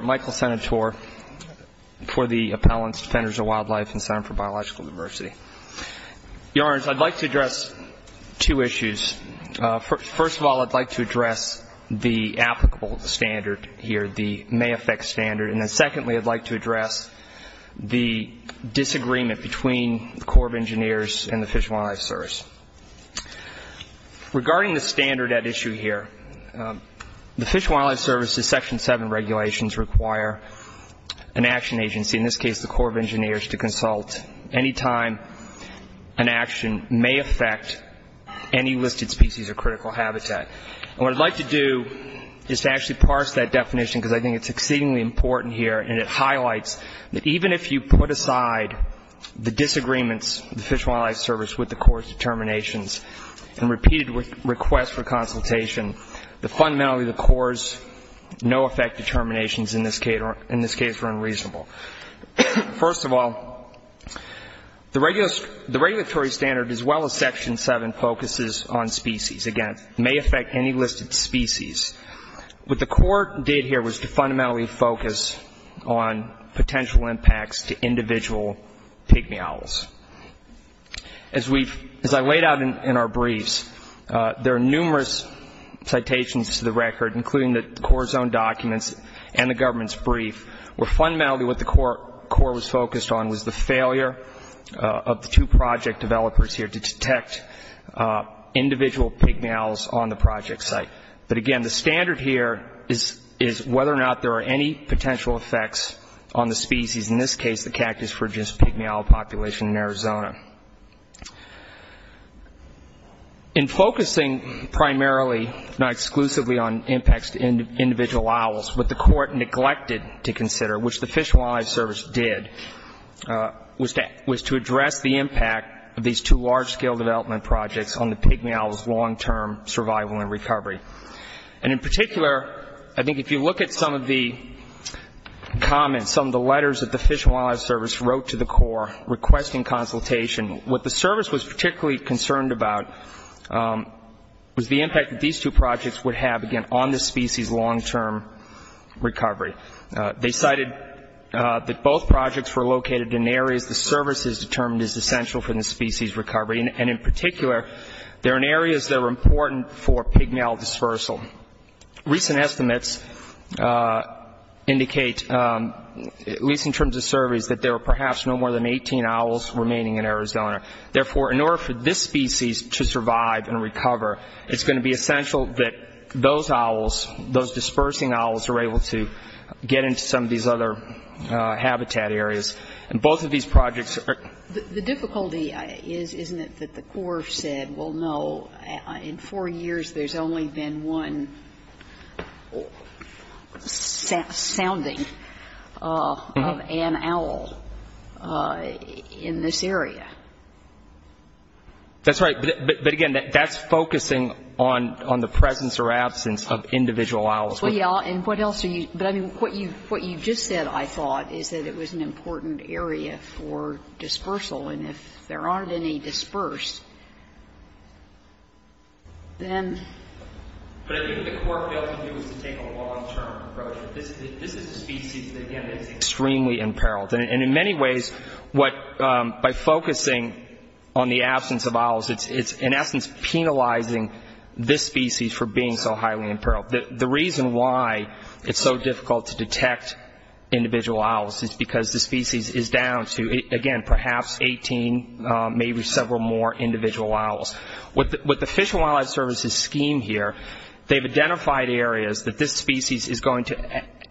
Michael Senator for the Appellant's Defenders of Wildlife and Center for Biological Diversity Your Honors, I'd like to address two issues. First of all, I'd like to address the applicable standard here, the may affect standard. And then secondly, I'd like to address the disagreement between the Corps of Engineers and the Fish and Wildlife Service. Regarding the standard at issue here, the Fish and Wildlife Service's Section 7 regulations require an action agency, in this case the Corps of Engineers, to consult any time an action may affect any listed species or critical habitat. And what I'd like to do is to actually parse that definition, because I think it's exceedingly important here, and it highlights that even if you put aside the disagreements, the Fish and Wildlife Service, with the Corps' determinations and repeated requests for consultation, fundamentally the Corps' no effect determinations in this case are unreasonable. First of all, the regulatory standard, as well as Section 7, focuses on species. Again, may affect any listed species. What the Corps did here was to fundamentally focus on potential impacts to individual pygmy owls. As I laid out in our briefs, there are numerous citations to the record, including the Corps' own documents and the government's brief, where fundamentally what the Corps was focused on was the failure of the two project developers here to detect individual pygmy owls on the project site. But again, the standard here is whether or not there are any potential effects on the species, in this case the Cactus frigus pygmy owl population in Arizona. In focusing primarily, if not exclusively, on impacts to individual owls, what the Corps neglected to consider, which the Fish and Wildlife Service did, was to address the impact of these two large-scale development projects on the pygmy owls' long-term survival and recovery. And in particular, I think if you look at some of the comments, some of the letters that the Fish and Wildlife Service wrote to the Corps requesting consultation, what the Service was particularly concerned about was the impact that these two projects would have, again, on the species' long-term recovery. They cited that both projects were located in areas the Service has determined is essential for the species' recovery, and in particular, they're in areas that are important for pygmy owl dispersal. Recent estimates indicate, at least in terms of surveys, that there are perhaps no more than 18 owls remaining in Arizona. Therefore, in order for this species to survive and recover, it's going to be essential that those owls, those dispersing owls, are able to get into some of these other habitat areas. And both of these projects are --. The difficulty is, isn't it, that the Corps said, well, no, in four years, there's only been one sounding of an owl in this area? That's right. But, again, that's focusing on the presence or absence of individual owls. Well, yeah, and what else are you --? But, I mean, what you just said, I thought, is that it was an important area for dispersal. And if there aren't any dispersed, then--. But I think what the Corps failed to do is to take a long-term approach. This is a species that, again, is extremely imperiled. And in many ways, what by focusing on the absence of owls, it's in essence penalizing this species for being so highly imperiled. The reason why it's so difficult to detect individual owls is because the species is down to, again, perhaps 18, maybe several more individual owls. With the Fish and Wildlife Service's scheme here, they've identified areas that this species is going to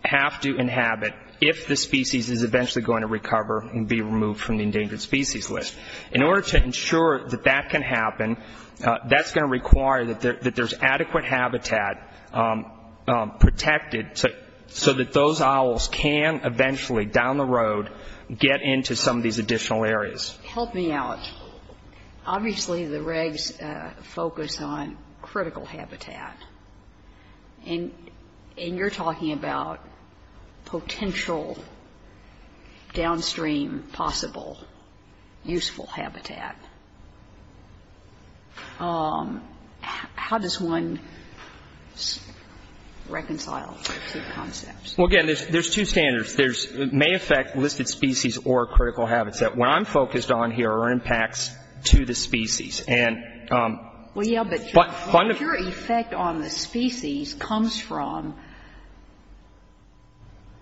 have to inhabit if this species is eventually going to recover and be removed from the endangered species list. In order to ensure that that can happen, that's going to require that there's adequate habitat protected so that those owls can eventually, down the road, get into some of these additional areas. Help me out. Obviously, the regs focus on critical habitat. And you're talking about potential downstream possible useful habitat. How does one reconcile those two concepts? Well, again, there's two standards. It may affect listed species or critical habitat. What I'm focused on here are impacts to the species. Well, yeah, but your effect on the species comes from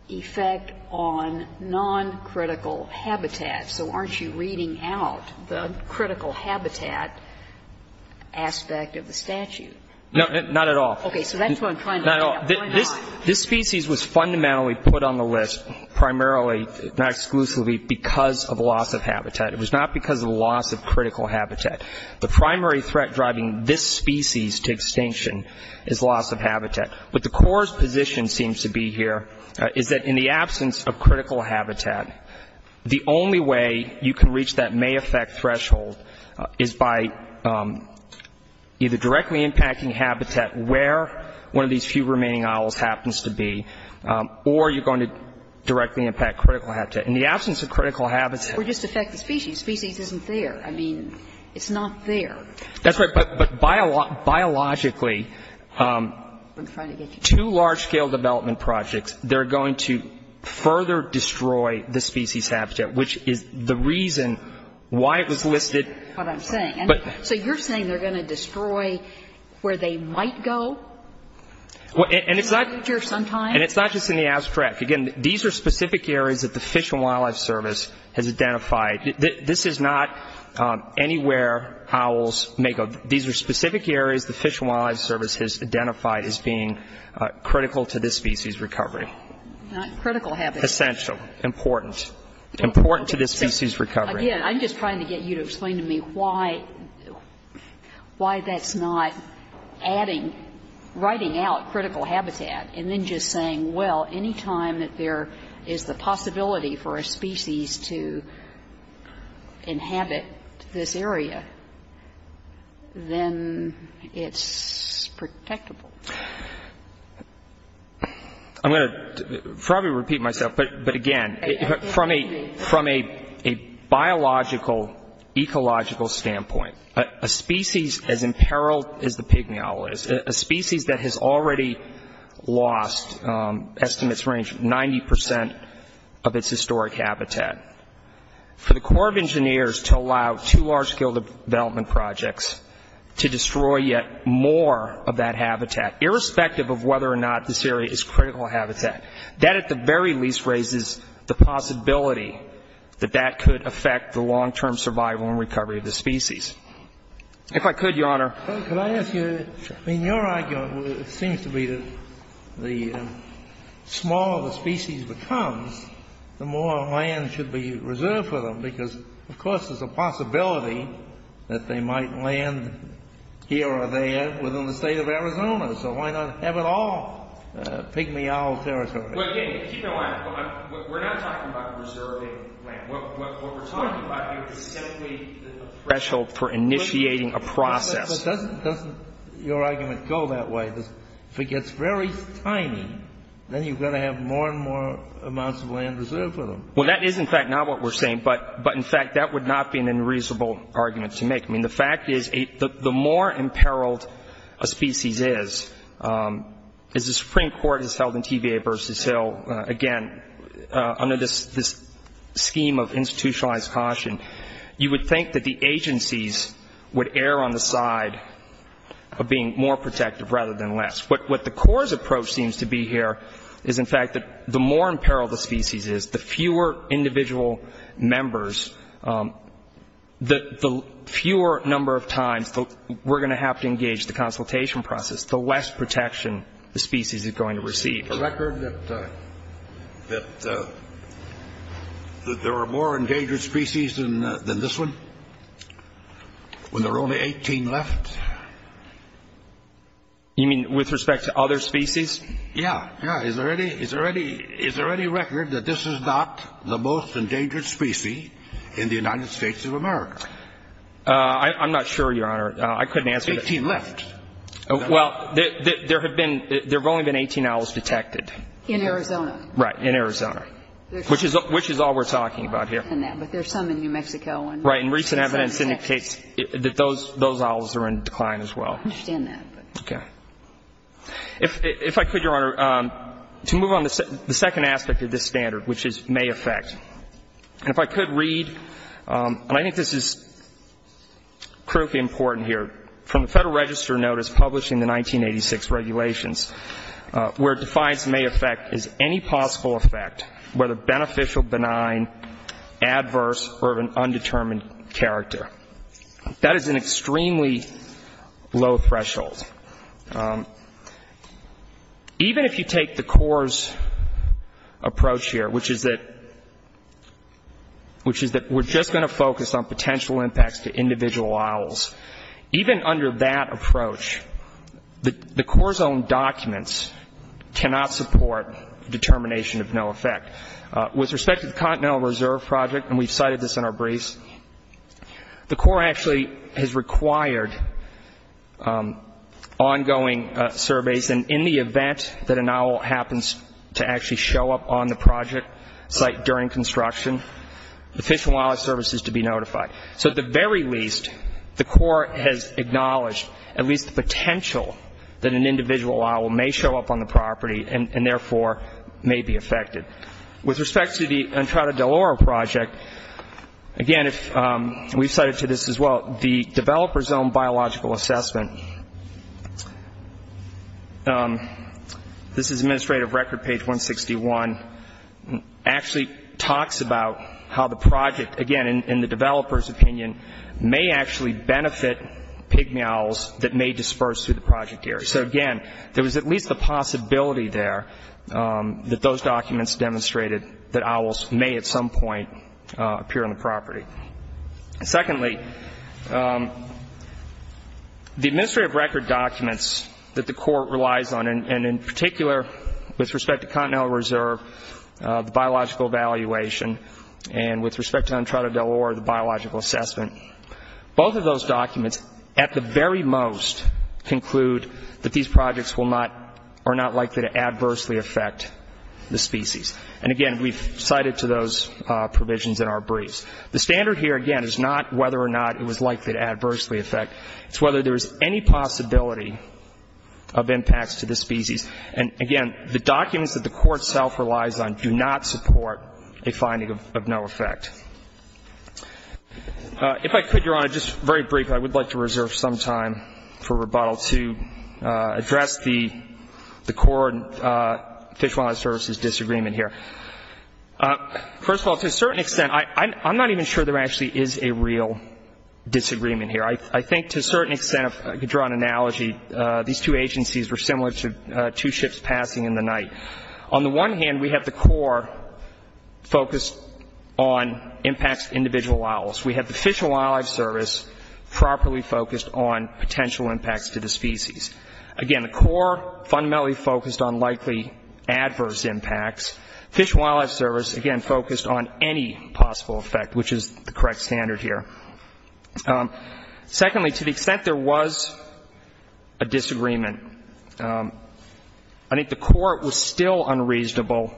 effect on noncritical habitat. So aren't you reading out the critical habitat aspect of the statute? No, not at all. Okay. So that's what I'm trying to get at. Why not? This species was fundamentally put on the list primarily, not exclusively, because of loss of habitat. It was not because of loss of critical habitat. The primary threat driving this species to extinction is loss of habitat. What the CORE's position seems to be here is that in the absence of critical habitat, the only way you can reach that may affect threshold is by either directly impacting habitat where one of these few remaining owls happens to be, or you're going to directly impact critical habitat. In the absence of critical habitat. Or just affect the species. Species isn't there. I mean, it's not there. That's right. But biologically, two large-scale development projects, they're going to further destroy the species habitat, which is the reason why it was listed. That's what I'm saying. So you're saying they're going to destroy where they might go in the future sometime? And it's not just in the abstract. Again, these are specific areas that the Fish and Wildlife Service has identified. This is not anywhere owls may go. These are specific areas the Fish and Wildlife Service has identified as being critical to this species' recovery. Not critical habitat. Essential. Important. Important to this species' recovery. Again, I'm just trying to get you to explain to me why that's not adding, writing out critical habitat, and then just saying, well, any time that there is the possibility for a species to inhabit this area, then it's protectable. I'm going to probably repeat myself, but again, from a biological, ecological standpoint, a species as imperiled as the pigmy owl is, a species that has already lost, estimates range, 90% of its historic habitat. For the Corps of Engineers to allow two large-scale development projects to destroy yet more of that habitat, irrespective of whether or not this area is critical habitat, that at the very least raises the possibility that that could affect the long-term survival and recovery of the species. If I could, Your Honor. Can I ask you, I mean, your argument seems to be that the smaller the species becomes, the more land should be reserved for them, because, of course, there's a possibility that they might land here or there within the State of Arizona, so why not have it all pigmy owl territory? Well, again, keep in mind, we're not talking about reserving land. What we're talking about here is simply a threshold for initiating a process. But doesn't your argument go that way? If it gets very tiny, then you've got to have more and more amounts of land reserved for them. Well, that is, in fact, not what we're saying, but, in fact, that would not be an unreasonable argument to make. I mean, the fact is the more imperiled a species is, as the Supreme Court has held in TVA v. Hill, again, under this scheme of institutionalized caution, you would think that the agencies would err on the side of being more protective rather than less. What the CORE's approach seems to be here is, in fact, that the more imperiled the species is, the fewer individual members, the fewer number of times we're going to have to engage the consultation process, the less protection the species is going to receive. A record that there are more endangered species than this one, when there are only 18 left? You mean with respect to other species? Yeah, yeah. Is there any record that this is not the most endangered species in the United States of America? I'm not sure, Your Honor. I couldn't answer that. 18 left. Well, there have only been 18 owls detected. In Arizona. Right, in Arizona, which is all we're talking about here. I understand that, but there are some in New Mexico. Right. And recent evidence indicates that those owls are in decline as well. I understand that. Okay. If I could, Your Honor, to move on to the second aspect of this standard, which is may affect. And if I could read, and I think this is critically important here, from the Federal Register notice published in the 1986 regulations, where it defines may affect as any possible effect, whether beneficial, benign, adverse, or of an undetermined character. That is an extremely low threshold. Even if you take the Corps' approach here, which is that we're just going to focus on potential impacts to individual owls, even under that approach, the Corps' own documents cannot support determination of no effect. With respect to the Continental Reserve Project, and we've cited this in our briefs, the Corps actually has required ongoing surveys. And in the event that an owl happens to actually show up on the project site during construction, the Fish and Wildlife Service is to be notified. So at the very least, the Corps has acknowledged at least the potential that an individual owl may show up on the property and therefore may be affected. With respect to the Entrada del Oro Project, again, we've cited to this as well, the developer's own biological assessment, this is Administrative Record page 161, actually talks about how the project, again, in the developer's opinion, may actually benefit pigmy owls that may disperse through the project area. So again, there was at least a possibility there that those documents demonstrated that owls may at some point appear on the property. Secondly, the Administrative Record documents that the Corps relies on, and in particular with respect to Continental Reserve, the biological evaluation, and with respect to Entrada del Oro, the biological assessment, both of those documents at the very most conclude that these projects are not likely to adversely affect the species. And again, we've cited to those provisions in our briefs. The standard here, again, is not whether or not it was likely to adversely affect. It's whether there is any possibility of impacts to the species. And again, the documents that the Corps itself relies on do not support a finding of no effect. If I could, Your Honor, just very briefly, I would like to reserve some time for rebuttal to address the Corps Fish and Wildlife Service's disagreement here. First of all, to a certain extent, I'm not even sure there actually is a real disagreement here. I think to a certain extent, if I could draw an analogy, these two agencies were similar to two ships passing in the night. On the one hand, we have the Corps focused on impacts to individual owls. We have the Fish and Wildlife Service properly focused on potential impacts to the species. Again, the Corps fundamentally focused on likely adverse impacts. Fish and Wildlife Service, again, focused on any possible effect, which is the correct standard here. Secondly, to the extent there was a disagreement, I think the Court was still unreasonable,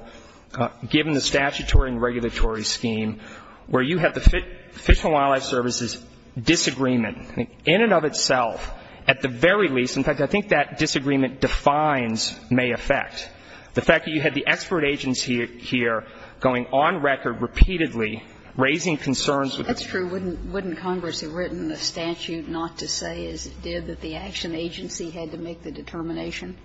given the statutory and regulatory scheme, where you have the Fish and Wildlife Service's disagreement, in and of itself, at the very least. In fact, I think that disagreement defines may affect. The fact that you had the expert agency here going on record repeatedly, raising concerns with the. That's true. Sotomayor, wouldn't Congress have written the statute not to say, as it did, that the action agency had to make the determination?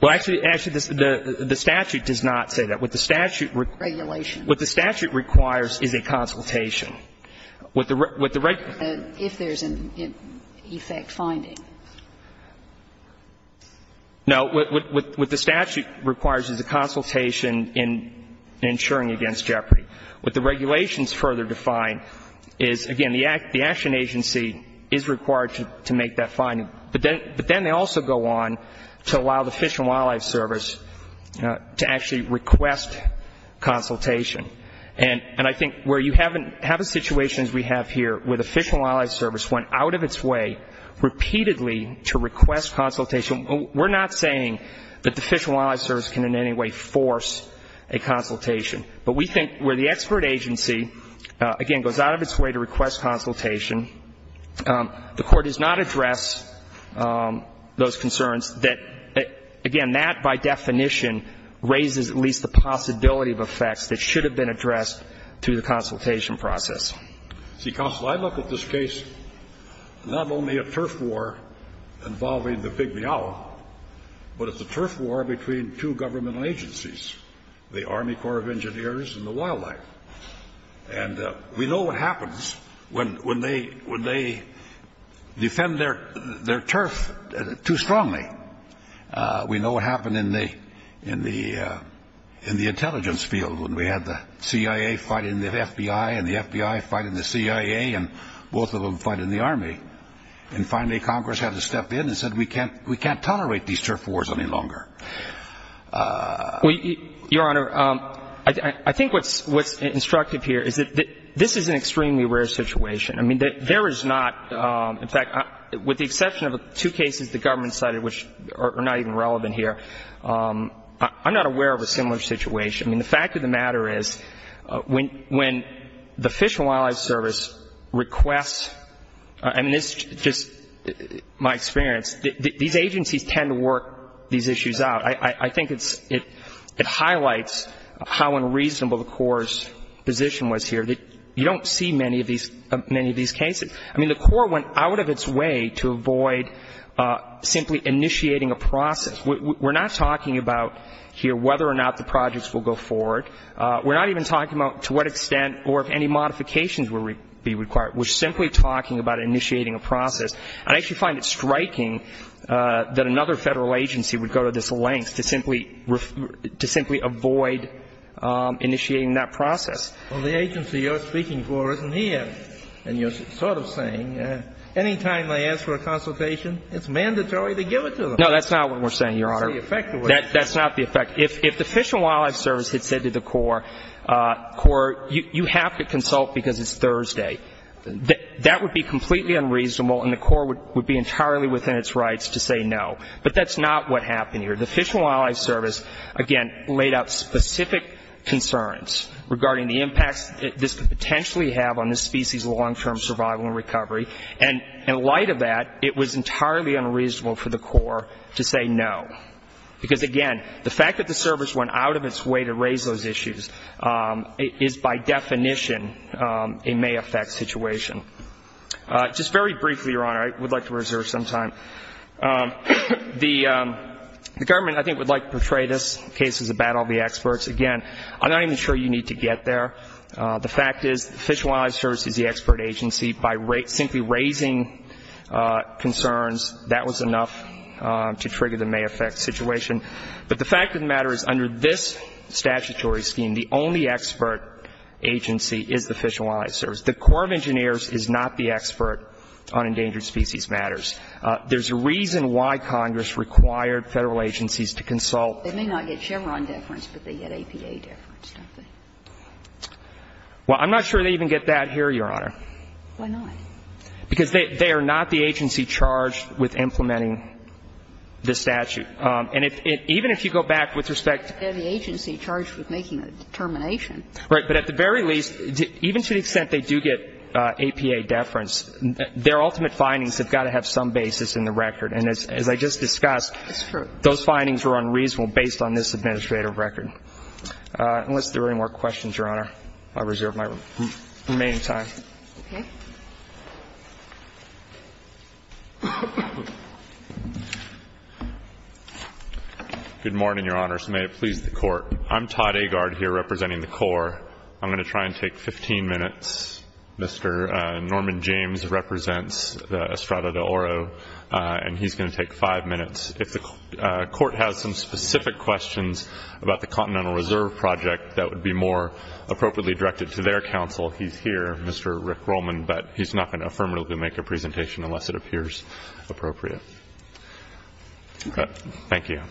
Well, actually, the statute does not say that. With the statute. Regulation. What the statute requires is a consultation. If there's an effect finding. No. What the statute requires is a consultation in ensuring against jeopardy. What the regulations further define is, again, the action agency is required to make that finding. But then they also go on to allow the Fish and Wildlife Service to actually request consultation. And I think where you have a situation, as we have here, where the Fish and Wildlife Service went out of its way repeatedly to request consultation, we're not saying that the Fish and Wildlife Service can in any way force a consultation. But we think where the expert agency, again, goes out of its way to request consultation, the Court does not address those concerns that, again, that, by definition, raises at least the possibility of effects that should have been addressed through the consultation process. See, Counsel, I look at this case, not only a turf war involving the Big Meow, but it's a turf war between two government agencies, the Army Corps of Engineers and the wildlife. And we know what happens when they defend their turf too strongly. We know what happened in the intelligence field when we had the CIA fighting the FBI and the FBI fighting the CIA and both of them fighting the Army. And finally Congress had to step in and said we can't tolerate these turf wars any longer. Your Honor, I think what's instructive here is that this is an extremely rare situation. I mean, there is not, in fact, with the exception of two cases the government cited, which are not even relevant here, I'm not aware of a similar situation. I mean, the fact of the matter is when the Fish and Wildlife Service requests, and this is just my experience, these agencies tend to work these issues out. I think it highlights how unreasonable the Corps' position was here. You don't see many of these cases. I mean, the Corps went out of its way to avoid simply initiating a process. We're not talking about here whether or not the projects will go forward. We're not even talking about to what extent or if any modifications will be required. We're simply talking about initiating a process. I actually find it striking that another federal agency would go to this length to simply avoid initiating that process. Well, the agency you're speaking for isn't here. And you're sort of saying any time they ask for a consultation, it's mandatory to give it to them. No, that's not what we're saying, Your Honor. That's not the effect. If the Fish and Wildlife Service had said to the Corps, Corps, you have to consult because it's Thursday, that would be completely unreasonable and the Corps would be entirely within its rights to say no. But that's not what happened here. The Fish and Wildlife Service, again, laid out specific concerns regarding the impacts this could potentially have on this species' long-term survival and recovery. And in light of that, it was entirely unreasonable for the Corps to say no. Because, again, the fact that the service went out of its way to raise those issues is by definition a may affect situation. Just very briefly, Your Honor, I would like to reserve some time. The government, I think, would like to portray this case as a battle of the experts. Again, I'm not even sure you need to get there. The fact is the Fish and Wildlife Service is the expert agency. By simply raising concerns, that was enough to trigger the may affect situation. But the fact of the matter is under this statutory scheme, the only expert agency is the Fish and Wildlife Service. The Corps of Engineers is not the expert on endangered species matters. There's a reason why Congress required Federal agencies to consult. They may not get Chevron deference, but they get APA deference, don't they? Well, I'm not sure they even get that here, Your Honor. Why not? Because they are not the agency charged with implementing the statute. And even if you go back with respect to the agency charged with making the determination. Right. But at the very least, even to the extent they do get APA deference, their ultimate findings have got to have some basis in the record. And as I just discussed, those findings were unreasonable based on this administrative record. Unless there are any more questions, Your Honor, I reserve my remaining time. Okay. Good morning, Your Honors. May it please the Court. I'm Todd Agard here representing the Corps. I'm going to try and take 15 minutes. Mr. Norman James represents the Estrada de Oro, and he's going to take five minutes. If the Court has some specific questions about the Continental Reserve Project that would be more appropriately directed to their counsel, he's here, Mr. Rick Roman, but he's not going to affirmatively make a presentation unless it appears appropriate. Okay. Thank you.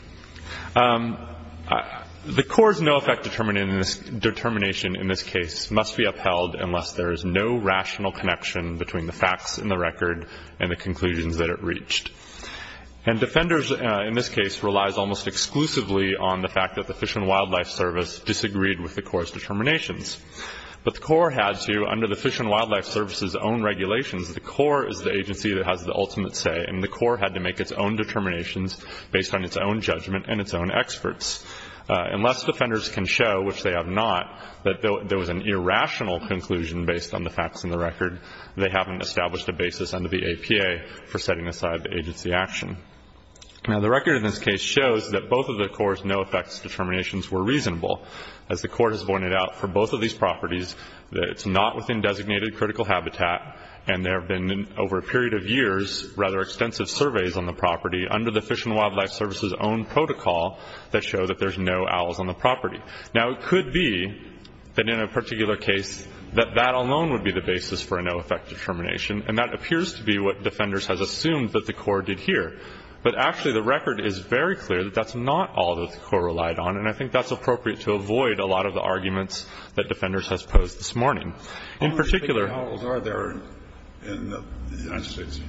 The Corps' no effect determination in this case must be upheld unless there is no rational connection between the facts in the record and the conclusions that it reached. And Defenders, in this case, relies almost exclusively on the fact that the Fish and Wildlife Service disagreed with the Corps' determinations. But the Corps had to, under the Fish and Wildlife Service's own regulations, the Corps is the agency that has the ultimate say, and the Corps had to make its own determinations based on its own judgment and its own experts. Unless Defenders can show, which they have not, that there was an irrational conclusion based on the facts in the record, they haven't established a basis under the APA for setting aside the agency action. Now, the record in this case shows that both of the Corps' no effects determinations were reasonable. As the Corps has pointed out, for both of these properties, it's not within designated critical habitat, and there have been over a period of years rather extensive surveys on the property under the Fish and Wildlife Service's own protocol that show that there's no owls on the property. Now, it could be that in a particular case that that alone would be the basis for a no effect determination, and that appears to be what Defenders has assumed that the Corps did here. But actually, the record is very clear that that's not all that the Corps relied on, and I think that's appropriate to avoid a lot of the arguments that Defenders has posed this morning. In particular- How many fake owls are there in the United States?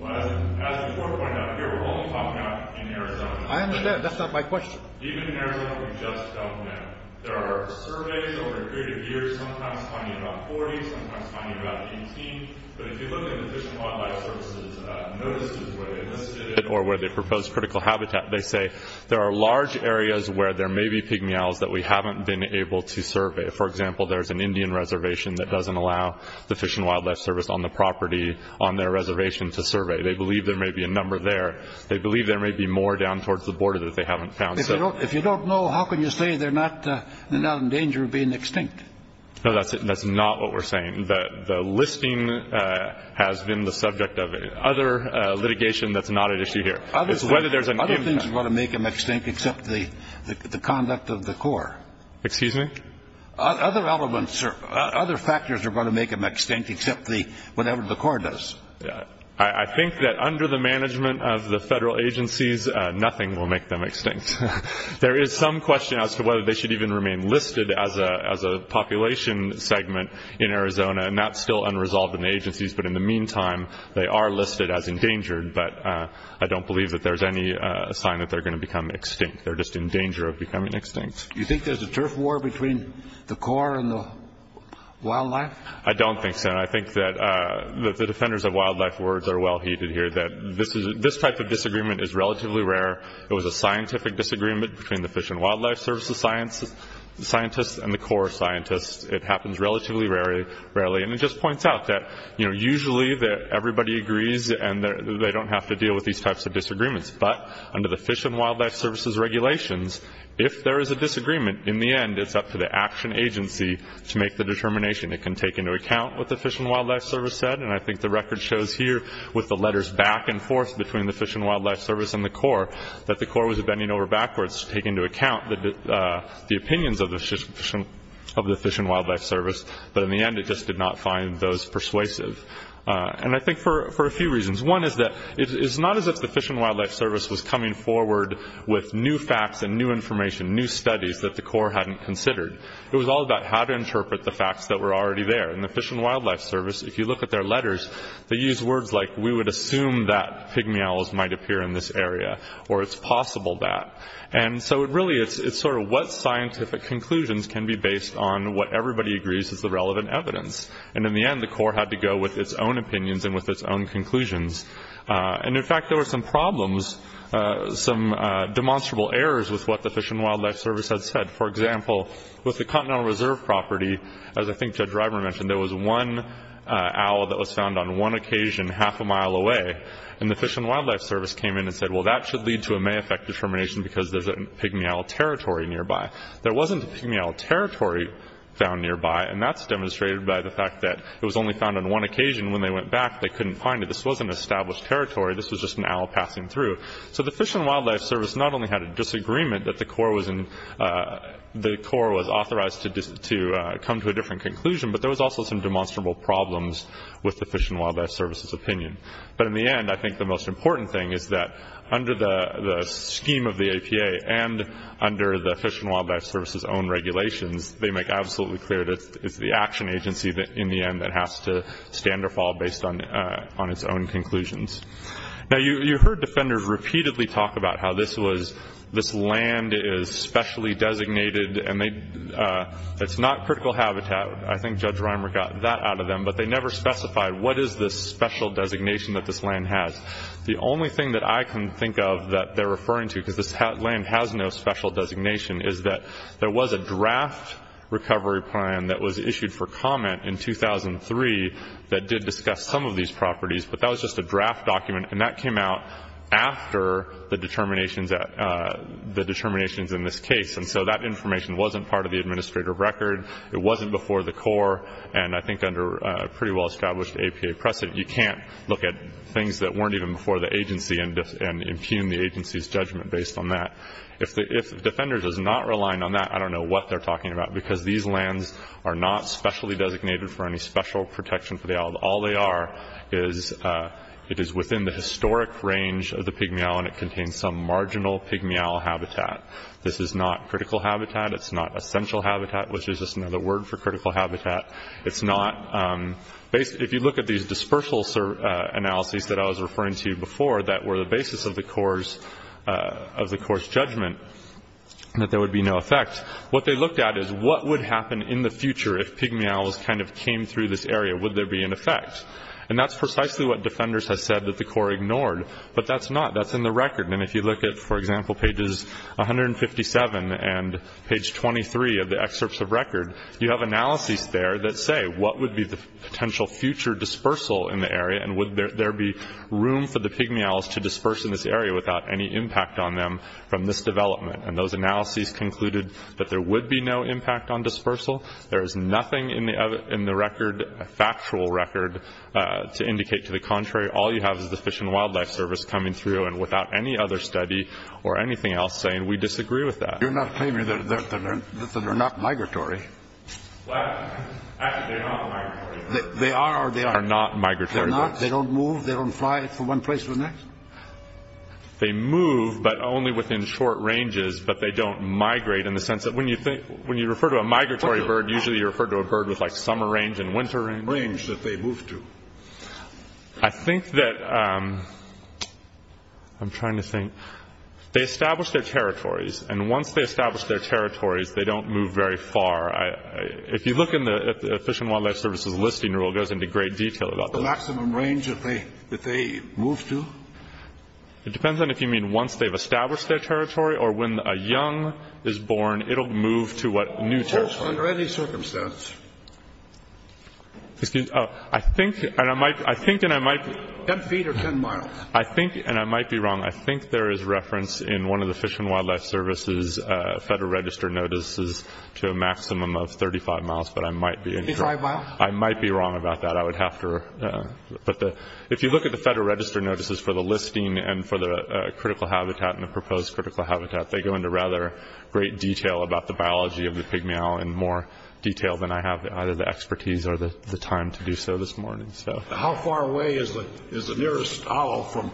Well, as the Corps pointed out here, we're only talking about in Arizona. I understand. That's not my question. Even in Arizona, we just don't know. There are surveys over a period of years, sometimes finding about 40, sometimes finding about 18. But if you look at the Fish and Wildlife Service's notices where they listed it where there may be pigmy owls that we haven't been able to survey. For example, there's an Indian reservation that doesn't allow the Fish and Wildlife Service on the property on their reservation to survey. They believe there may be a number there. They believe there may be more down towards the border that they haven't found. If you don't know, how can you say they're not in danger of being extinct? No, that's not what we're saying. The listing has been the subject of other litigation that's not at issue here. Other things are going to make them extinct except the conduct of the Corps. Excuse me? Other factors are going to make them extinct except whatever the Corps does. I think that under the management of the federal agencies, nothing will make them extinct. There is some question as to whether they should even remain listed as a population segment in Arizona, and that's still unresolved in the agencies. But in the meantime, they are listed as endangered, but I don't believe that there's any sign that they're going to become extinct. They're just in danger of becoming extinct. Do you think there's a turf war between the Corps and the wildlife? I don't think so. I think that the defenders of wildlife words are well-heeded here, that this type of disagreement is relatively rare. It was a scientific disagreement between the Fish and Wildlife Service scientists and the Corps scientists. It happens relatively rarely. And it just points out that usually everybody agrees and they don't have to deal with these types of disagreements. But under the Fish and Wildlife Service's regulations, if there is a disagreement, in the end it's up to the action agency to make the determination. It can take into account what the Fish and Wildlife Service said, and I think the record shows here with the letters back and forth between the Fish and Wildlife Service and the Corps that the Corps was bending over backwards to take into account the opinions of the Fish and Wildlife Service. But in the end, it just did not find those persuasive. And I think for a few reasons. One is that it's not as if the Fish and Wildlife Service was coming forward with new facts and new information, new studies that the Corps hadn't considered. It was all about how to interpret the facts that were already there. And the Fish and Wildlife Service, if you look at their letters, they use words like, we would assume that pygmy owls might appear in this area, or it's possible that. And so really, it's sort of what scientific conclusions can be based on what everybody agrees is the relevant evidence. And in the end, the Corps had to go with its own opinions and with its own conclusions. And in fact, there were some problems, some demonstrable errors with what the Fish and Wildlife Service had said. For example, with the Continental Reserve property, as I think Judge Ryburn mentioned, there was one owl that was found on one occasion half a mile away. And the Fish and Wildlife Service came in and said, well, that should lead to a may affect determination because there's a pygmy owl territory nearby. There wasn't a pygmy owl territory found nearby, and that's demonstrated by the fact that it was only found on one occasion. When they went back, they couldn't find it. This wasn't established territory. This was just an owl passing through. So the Fish and Wildlife Service not only had a disagreement that the Corps was authorized to come to a different conclusion, but in the end, I think the most important thing is that under the scheme of the APA and under the Fish and Wildlife Service's own regulations, they make absolutely clear that it's the action agency in the end that has to stand or fall based on its own conclusions. Now, you heard defenders repeatedly talk about how this land is specially designated, and it's not critical habitat. I think Judge Reimer got that out of them, but they never specified what is this special designation that this land has. The only thing that I can think of that they're referring to, because this land has no special designation, is that there was a draft recovery plan that was issued for comment in 2003 that did discuss some of these properties, but that was just a draft document, and that came out after the determinations in this case. And so that information wasn't part of the administrator record. It wasn't before the Corps, and I think under a pretty well-established APA precedent, you can't look at things that weren't even before the agency and impugn the agency's judgment based on that. If defenders is not relying on that, I don't know what they're talking about, because these lands are not specially designated for any special protection for the owl. All they are is it is within the historic range of the pygmy owl, and it contains some marginal pygmy owl habitat. This is not critical habitat. It's not essential habitat, which is just another word for critical habitat. If you look at these dispersal analyses that I was referring to before that were the basis of the Corps' judgment that there would be no effect, what they looked at is what would happen in the future if pygmy owls kind of came through this area. Would there be an effect? And that's precisely what defenders have said that the Corps ignored, but that's not. And if you look at, for example, pages 157 and page 23 of the excerpts of record, you have analyses there that say what would be the potential future dispersal in the area, and would there be room for the pygmy owls to disperse in this area without any impact on them from this development. And those analyses concluded that there would be no impact on dispersal. There is nothing in the record, factual record, to indicate to the contrary. All you have is the Fish and Wildlife Service coming through, and without any other study or anything else saying we disagree with that. You're not claiming that they're not migratory. Well, actually, they're not migratory. They are or they aren't? They are not migratory birds. They're not? They don't move? They don't fly from one place to the next? They move, but only within short ranges, but they don't migrate in the sense that when you refer to a migratory bird, usually you refer to a bird with, like, summer range and winter range. What range did they move to? I think that I'm trying to think. They establish their territories, and once they establish their territories, they don't move very far. If you look at the Fish and Wildlife Service's listing rule, it goes into great detail about that. The maximum range that they move to? It depends on if you mean once they've established their territory, or when a young is born, it'll move to a new territory. Under any circumstance. Excuse me. Oh, I think, and I might be wrong. I think there is reference in one of the Fish and Wildlife Service's Federal Register notices to a maximum of 35 miles, but I might be wrong about that. I would have to, but if you look at the Federal Register notices for the listing and for the critical habitat and the proposed critical habitat, they go into rather great detail about the biology of the pygmy owl in more detail than I have either the expertise or the time to do so this morning. How far away is the nearest owl from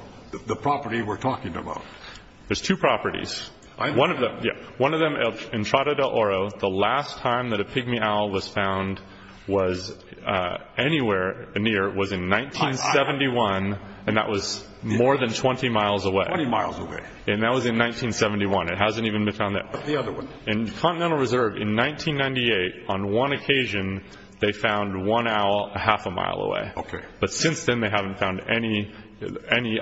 the property we're talking about? There's two properties. One of them, Entrada del Oro, the last time that a pygmy owl was found was anywhere near, was in 1971, and that was more than 20 miles away. 20 miles away. And that was in 1971. It hasn't even been found there. What about the other one? In Continental Reserve, in 1998, on one occasion, they found one owl a half a mile away. Okay. But since then, they haven't found any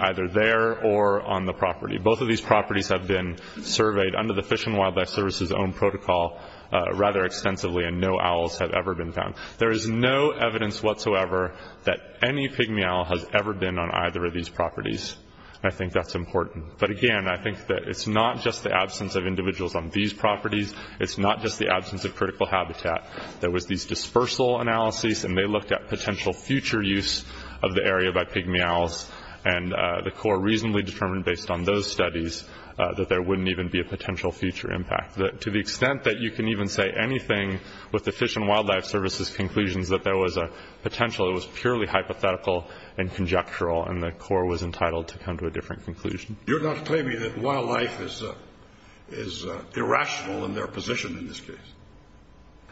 either there or on the property. Both of these properties have been surveyed under the Fish and Wildlife Service's own protocol rather extensively, and no owls have ever been found. There is no evidence whatsoever that any pygmy owl has ever been on either of these properties, and I think that's important. But, again, I think that it's not just the absence of individuals on these properties. It's not just the absence of critical habitat. There was these dispersal analyses, and they looked at potential future use of the area by pygmy owls, and the Corps reasonably determined based on those studies that there wouldn't even be a potential future impact. To the extent that you can even say anything with the Fish and Wildlife Service's conclusions that there was a potential, it was purely hypothetical and conjectural, and the Corps was entitled to come to a different conclusion. You're not claiming that wildlife is irrational in their position in this case?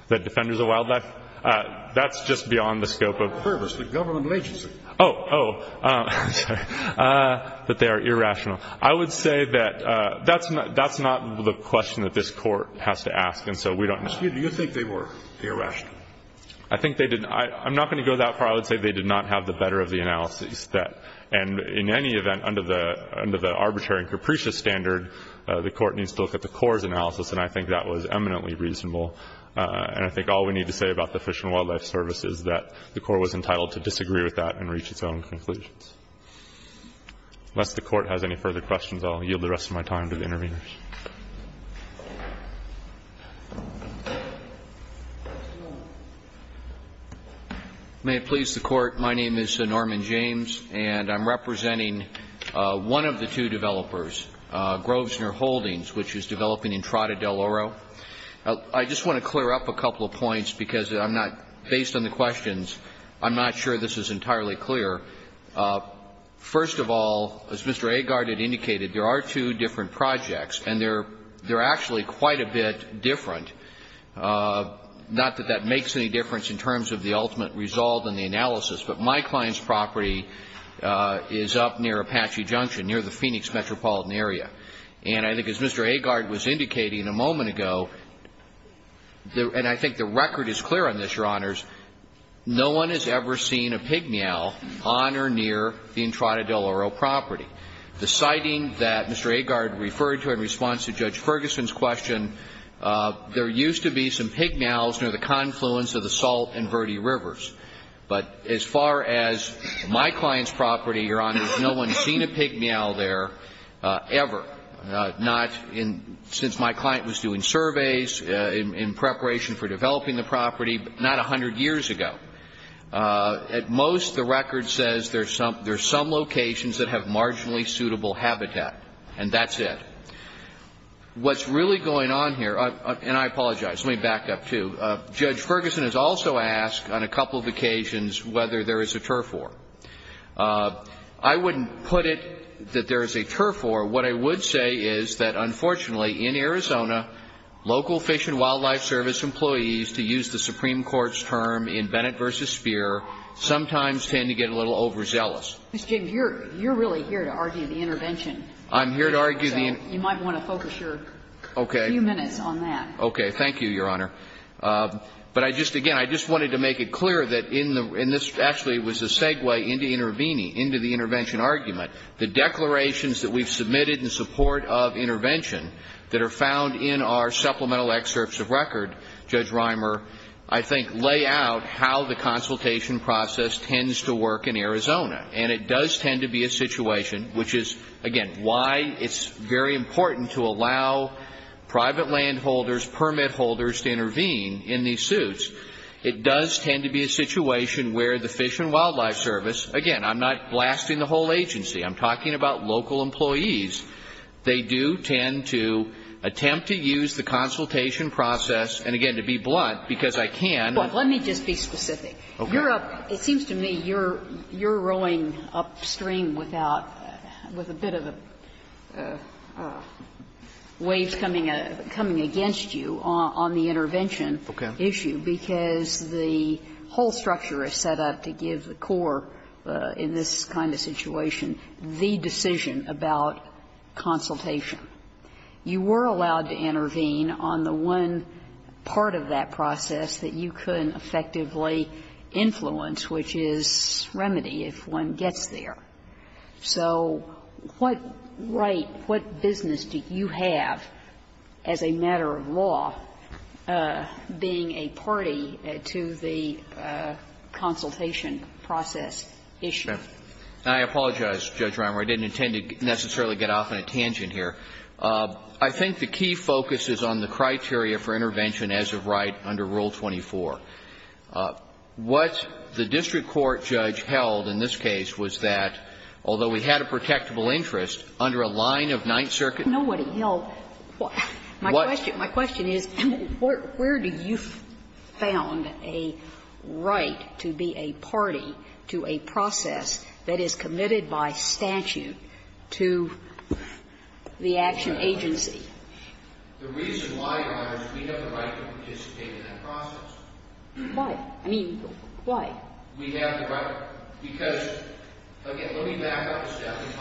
That defenders of wildlife? That's just beyond the scope of— The government agency. Oh. Oh. Sorry. That they are irrational. I would say that that's not the question that this court has to ask, and so we don't— Excuse me. Do you think they were irrational? I think they did. I'm not going to go that far. I would say they did not have the better of the analyses. And in any event, under the arbitrary and capricious standard, the court needs to look at the Corps' analysis, and I think that was eminently reasonable. And I think all we need to say about the Fish and Wildlife Service is that the Corps was entitled to disagree with that and reach its own conclusions. Unless the court has any further questions, I'll yield the rest of my time to the interveners. May it please the Court. My name is Norman James, and I'm representing one of the two developers, Grovesner Holdings, which is developing Entrada del Oro. I just want to clear up a couple of points because I'm not—based on the questions, I'm not sure this is entirely clear. First of all, as Mr. Agard had indicated, there are two different projects. And they're actually quite a bit different. Not that that makes any difference in terms of the ultimate result and the analysis, but my client's property is up near Apache Junction, near the Phoenix metropolitan area. And I think as Mr. Agard was indicating a moment ago, and I think the record is clear on this, Your Honors, no one has ever seen a pig meow on or near the Entrada del Oro property. The sighting that Mr. Agard referred to in response to Judge Ferguson's question, there used to be some pig meows near the confluence of the Salt and Verde Rivers. But as far as my client's property, Your Honors, no one has seen a pig meow there ever, not since my client was doing surveys in preparation for developing the property, but not a hundred years ago. At most, the record says there's some locations that have marginally suitable habitat, and that's it. What's really going on here, and I apologize, let me back up too, Judge Ferguson has also asked on a couple of occasions whether there is a turf war. I wouldn't put it that there is a turf war. What I would say is that, unfortunately, in Arizona, local Fish and Wildlife Service employees, who use the Supreme Court's term in Bennett v. Speer, sometimes tend to get a little overzealous. Ms. James, you're really here to argue the intervention. I'm here to argue the intervention. So you might want to focus your few minutes on that. Okay. Thank you, Your Honor. But I just, again, I just wanted to make it clear that in the – and this actually was a segue into Interveni, into the intervention argument. The declarations that we've submitted in support of intervention that are found in our supplemental excerpts of record, Judge Reimer, I think lay out how the consultation process tends to work in Arizona. And it does tend to be a situation, which is, again, why it's very important to allow private landholders, permit holders to intervene in these suits. It does tend to be a situation where the Fish and Wildlife Service, again, I'm not blasting the whole agency. I'm talking about local employees. They do tend to attempt to use the consultation process, and again, to be blunt, because I can't. Well, let me just be specific. Okay. It seems to me you're – you're rowing upstream without – with a bit of a wave coming against you on the intervention issue, because the whole structure is set up to give the core in this kind of situation the decision about consultation. You were allowed to intervene on the one part of that process that you couldn't effectively influence, which is remedy if one gets there. So what right, what business do you have as a matter of law being a party to the consultation process issue? Now, I apologize, Judge Reimer. I didn't intend to necessarily get off on a tangent here. I think the key focus is on the criteria for intervention as of right under Rule 24. What the district court judge held in this case was that, although we had a protectable interest, under a line of Ninth Circuit. Sotomayor, I don't know what he held. My question is, where do you found a right to be a party to a process that is committed by statute to the action agency? The reason why, Your Honor, is we have the right to participate in that process. Why? I mean, why? We have the right. Because, again, let me back up a step. The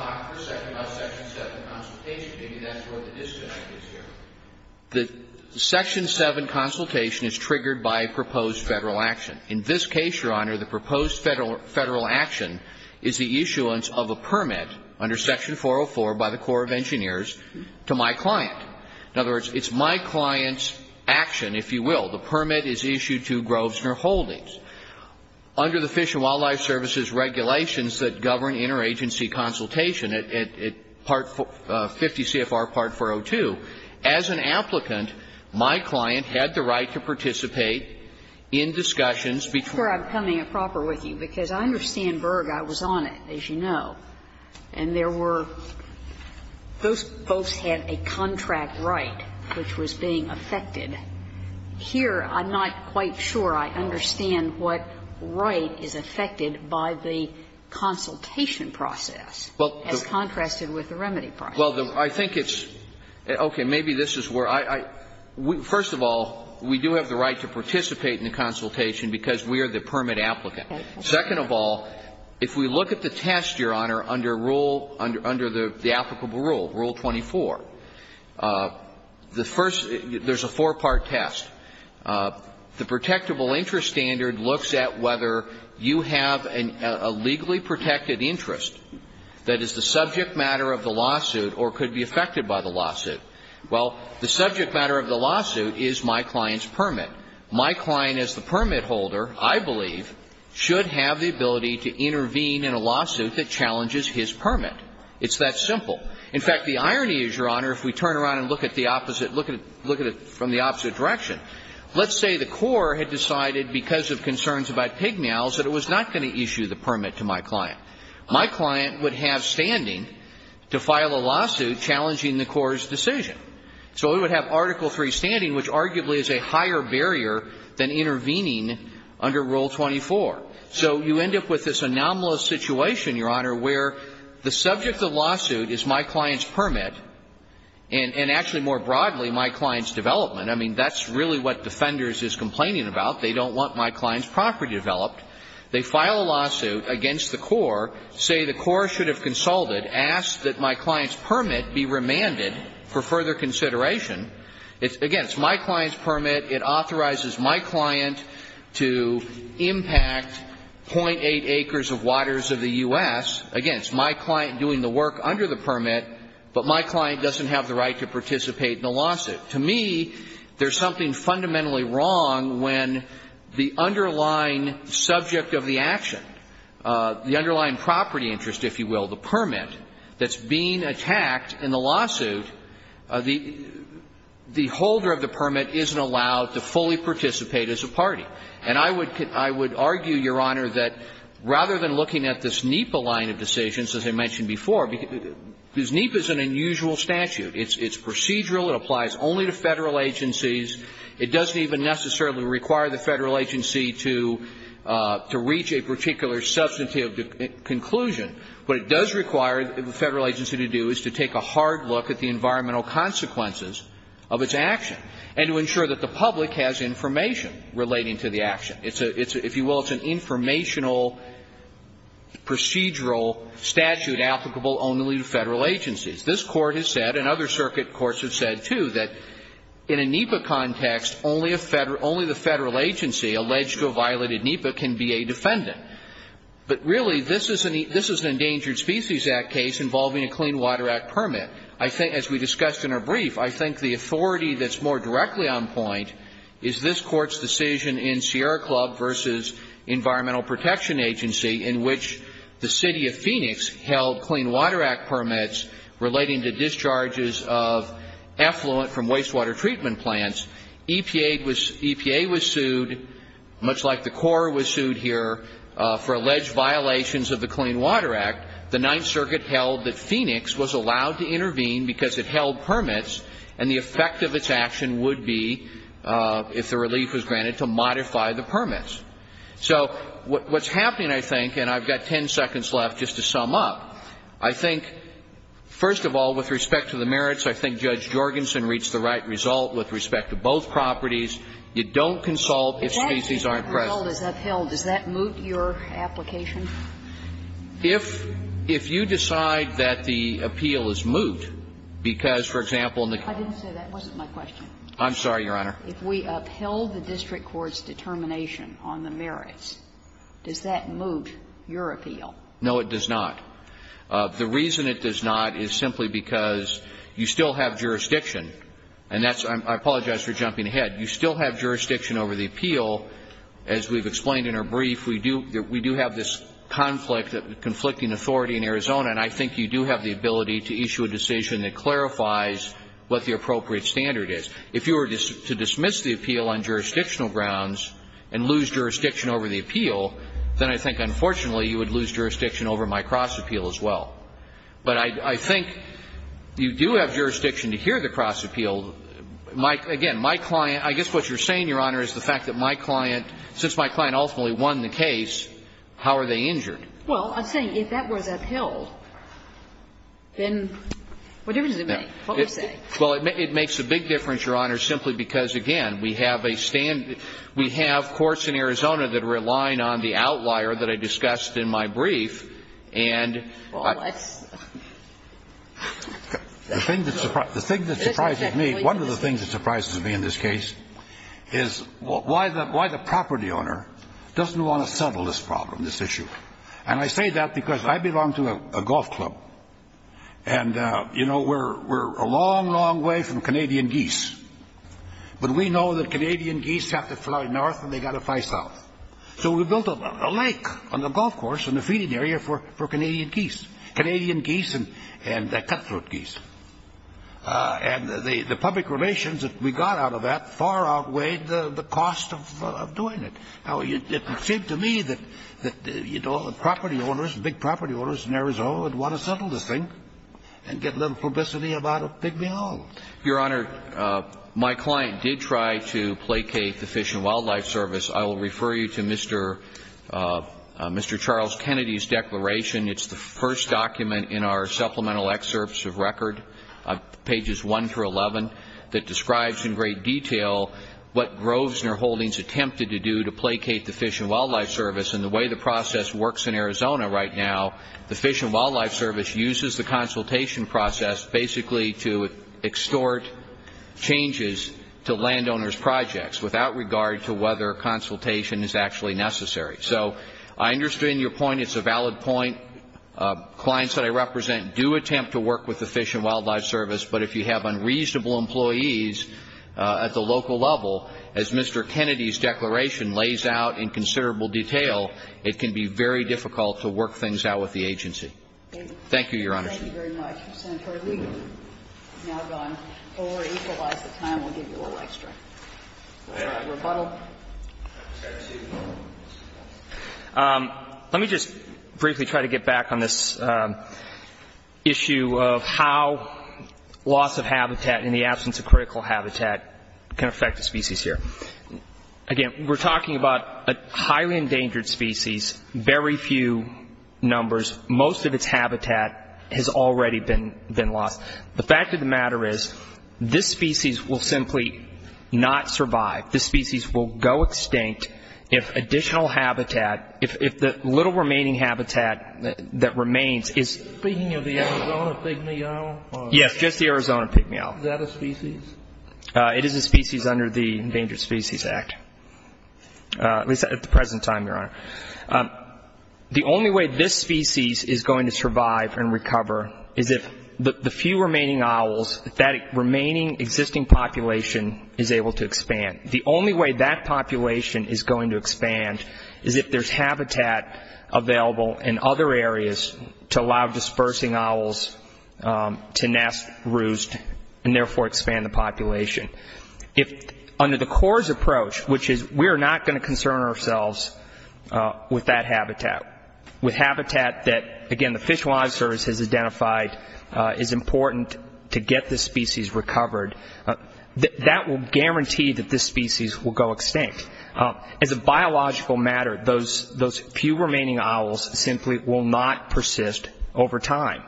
Section 7 consultation is triggered by a proposed Federal action. In this case, Your Honor, the proposed Federal action is the issuance of a permit under Section 404 by the Corps of Engineers to my client. In other words, it's my client's action, if you will. The permit is issued to Grovesner Holdings. Under the Fish and Wildlife Service's regulations that govern interagency consultation, at 50 CFR Part 402, as an applicant, my client had the right to participate in discussions between. I'm sure I'm coming at proper with you, because I understand Berg. I was on it, as you know. And there were those folks had a contract right which was being affected. Here, I'm not quite sure I understand what right is affected by the consultation process as contrasted with the remedy process. Well, I think it's okay. Maybe this is where I – first of all, we do have the right to participate in the consultation because we are the permit applicant. Second of all, if we look at the test, Your Honor, under rule – under the applicable rule, Rule 24, the first – there's a four-part test. The protectable interest standard looks at whether you have a legally protected interest that is the subject matter of the lawsuit or could be affected by the lawsuit. Well, the subject matter of the lawsuit is my client's permit. My client as the permit holder, I believe, should have the ability to intervene in a lawsuit that challenges his permit. It's that simple. In fact, the irony is, Your Honor, if we turn around and look at the opposite – look at it from the opposite direction, let's say the court had decided because of concerns about pignails that it was not going to issue the permit to my client. My client would have standing to file a lawsuit challenging the court's decision. So it would have Article III standing, which arguably is a higher barrier than intervening under Rule 24. So you end up with this anomalous situation, Your Honor, where the subject of the lawsuit is my client's permit and actually more broadly my client's development. I mean, that's really what Defenders is complaining about. They don't want my client's property developed. They file a lawsuit against the court, say the court should have consulted, asked that my client's permit be remanded for further consideration. Again, it's my client's permit. It authorizes my client to impact .8 acres of waters of the U.S. Again, it's my client doing the work under the permit, but my client doesn't have the right to participate in the lawsuit. To me, there's something fundamentally wrong when the underlying subject of the action, the underlying property interest, if you will, the permit, that's being attacked in the lawsuit, the holder of the permit isn't allowed to fully participate as a party. And I would argue, Your Honor, that rather than looking at this NEPA line of decisions, as I mentioned before, because NEPA is an unusual statute. It's procedural. It applies only to Federal agencies. It doesn't even necessarily require the Federal agency to reach a particular substantive conclusion. What it does require the Federal agency to do is to take a hard look at the environmental consequences of its action and to ensure that the public has information relating to the action. If you will, it's an informational procedural statute applicable only to Federal agencies. This Court has said, and other circuit courts have said, too, that in a NEPA context, only the Federal agency alleged to have violated NEPA can be a defendant. But really, this is an Endangered Species Act case involving a Clean Water Act permit. I think, as we discussed in our brief, I think the authority that's more directly on point is this Court's decision in Sierra Club v. Environmental Protection Agency, in which the City of Phoenix held Clean Water Act permits relating to discharges of effluent from wastewater treatment plants. EPA was sued, much like the Corps was sued here, for alleged violations of the Clean Water Act. The Ninth Circuit held that Phoenix was allowed to intervene because it held permits, and the effect of its action would be, if the relief was granted, to modify the permits. So what's happening, I think, and I've got ten seconds left just to sum up, I think, first of all, with respect to the merits, I think Judge Jorgensen reached the right result with respect to both properties. You don't consult if species aren't present. If the appeal is upheld, does that moot your application? If you decide that the appeal is moot because, for example, in the case of the Clean Water Act permit. I didn't say that. That wasn't my question. I'm sorry, Your Honor. If we upheld the district court's determination on the merits, does that moot your appeal? No, it does not. The reason it does not is simply because you still have jurisdiction, and that's I apologize for jumping ahead. You still have jurisdiction over the appeal. As we've explained in our brief, we do have this conflict, conflicting authority in Arizona, and I think you do have the ability to issue a decision that clarifies what the appropriate standard is. If you were to dismiss the appeal on jurisdictional grounds and lose jurisdiction over the appeal, then I think, unfortunately, you would lose jurisdiction over my cross-appeal as well. But I think you do have jurisdiction to hear the cross-appeal. Again, my client – I guess what you're saying, Your Honor, is the fact that my client – since my client ultimately won the case, how are they injured? Well, I'm saying if that was upheld, then what difference does it make? What would you say? Well, it makes a big difference, Your Honor, simply because, again, we have a standard – we have courts in Arizona that are relying on the outlier that I discussed in my brief. And the thing that surprises me – one of the things that surprises me in this case is why the property owner doesn't want to settle this problem, this issue. And I say that because I belong to a golf club, and, you know, we're a long, long way from Canadian geese. But we know that Canadian geese have to fly north and they've got to fly south. So we built a lake on the golf course and a feeding area for Canadian geese – Canadian geese and cutthroat geese. And the public relations that we got out of that far outweighed the cost of doing it. Now, it seemed to me that property owners, big property owners in Arizona would want to settle this thing and get a little publicity about a pig being hauled. Your Honor, my client did try to placate the Fish and Wildlife Service. I will refer you to Mr. Charles Kennedy's declaration. It's the first document in our supplemental excerpts of record, pages 1 through 11, that describes in great detail what Grovesner Holdings attempted to do to placate the Fish and Wildlife Service. And the way the process works in Arizona right now, the Fish and Wildlife Service uses the consultation process basically to extort changes to landowners' projects without regard to whether consultation is actually necessary. So I understand your point. It's a valid point. Clients that I represent do attempt to work with the Fish and Wildlife Service, but if you have unreasonable employees at the local level, as Mr. Kennedy's declaration lays out in considerable detail, it can be very difficult to work things out with the agency. Thank you, Your Honor. Thank you very much. Let me just briefly try to get back on this issue of how loss of habitat in the absence of critical habitat can affect the species here. Again, we're talking about a highly endangered species, very few numbers. Most of its habitat has already been lost. The fact of the matter is this species will simply not survive. This species will go extinct if additional habitat, if the little remaining habitat that remains is ---- Speaking of the Arizona pygmy owl? Yes, just the Arizona pygmy owl. Is that a species? It is a species under the Endangered Species Act, at least at the present time, Your Honor. The only way this species is going to survive and recover is if the few remaining owls, if that remaining existing population is able to expand. The only way that population is going to expand is if there's habitat available in other areas to allow dispersing owls to nest, roost, and therefore expand the population. Under the CORS approach, which is we're not going to concern ourselves with that habitat, with habitat that, again, the Fish and Wildlife Service has identified is important to get this species recovered, that will guarantee that this species will go extinct. As a biological matter, those few remaining owls simply will not persist over time.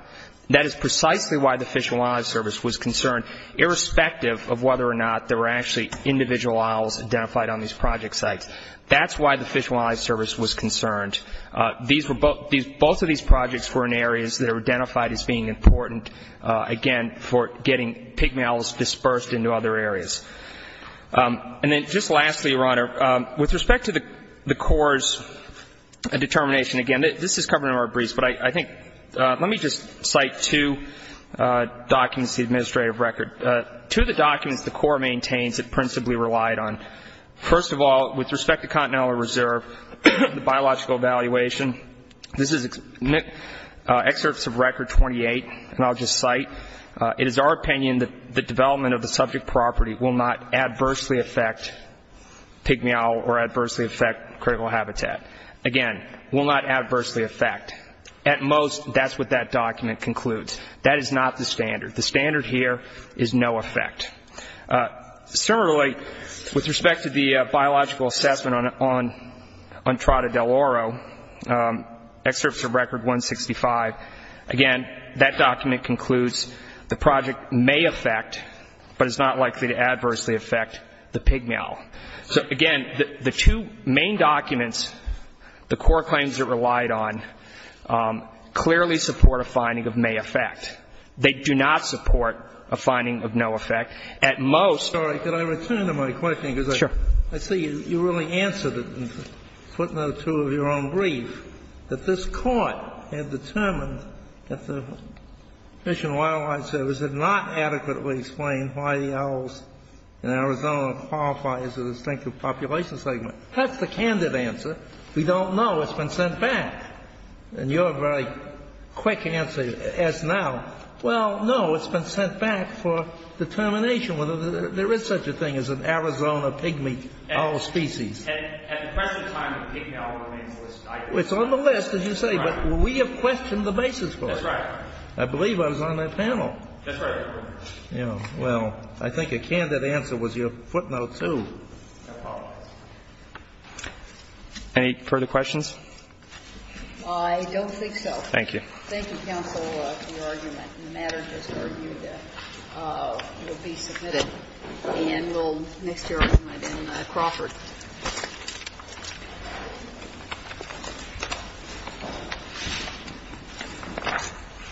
That is precisely why the Fish and Wildlife Service was concerned, irrespective of whether or not there were actually individual owls identified on these project sites. That's why the Fish and Wildlife Service was concerned. Both of these projects were in areas that are identified as being important, again, for getting pygmy owls dispersed into other areas. And then just lastly, Your Honor, with respect to the CORS determination, again, this is covered in our briefs, but I think, let me just cite two documents, the administrative record, two of the documents the CORS maintains it principally relied on. First of all, with respect to Continental Reserve, the biological evaluation, this is excerpts of Record 28, and I'll just cite, it is our opinion that the development of the subject property will not adversely affect pygmy owl or adversely affect critical habitat. Again, will not adversely affect. At most, that's what that document concludes. That is not the standard. The standard here is no effect. Similarly, with respect to the biological assessment on Trata del Oro, excerpts of Record 165, again, that document concludes the project may affect, but is not likely to adversely affect, the pygmy owl. So, again, the two main documents, the COR claims it relied on, clearly support a finding of may affect. They do not support a finding of no effect. At most — Sorry. Could I return to my question? Sure. Because I see you really answered it in putting out two of your own briefs, that this Court had determined that the Fish and Wildlife Service had not adequately explained why the owls in Arizona qualify as a distinctive population segment. That's the candid answer. We don't know. It's been sent back. And your very quick answer, as now, well, no, it's been sent back for determination whether there is such a thing as an Arizona pygmy owl species. At the present time, the pygmy owl remains listed. It's on the list, as you say, but we have questioned the basis for it. That's right. I believe I was on that panel. That's right. Yeah. Well, I think a candid answer was your footnote, too. I apologize. Any further questions? I don't think so. Thank you. Thank you, counsel, for your argument. And the matter has been reviewed. It will be submitted. And we'll mix your argument in Crawford. Thank you.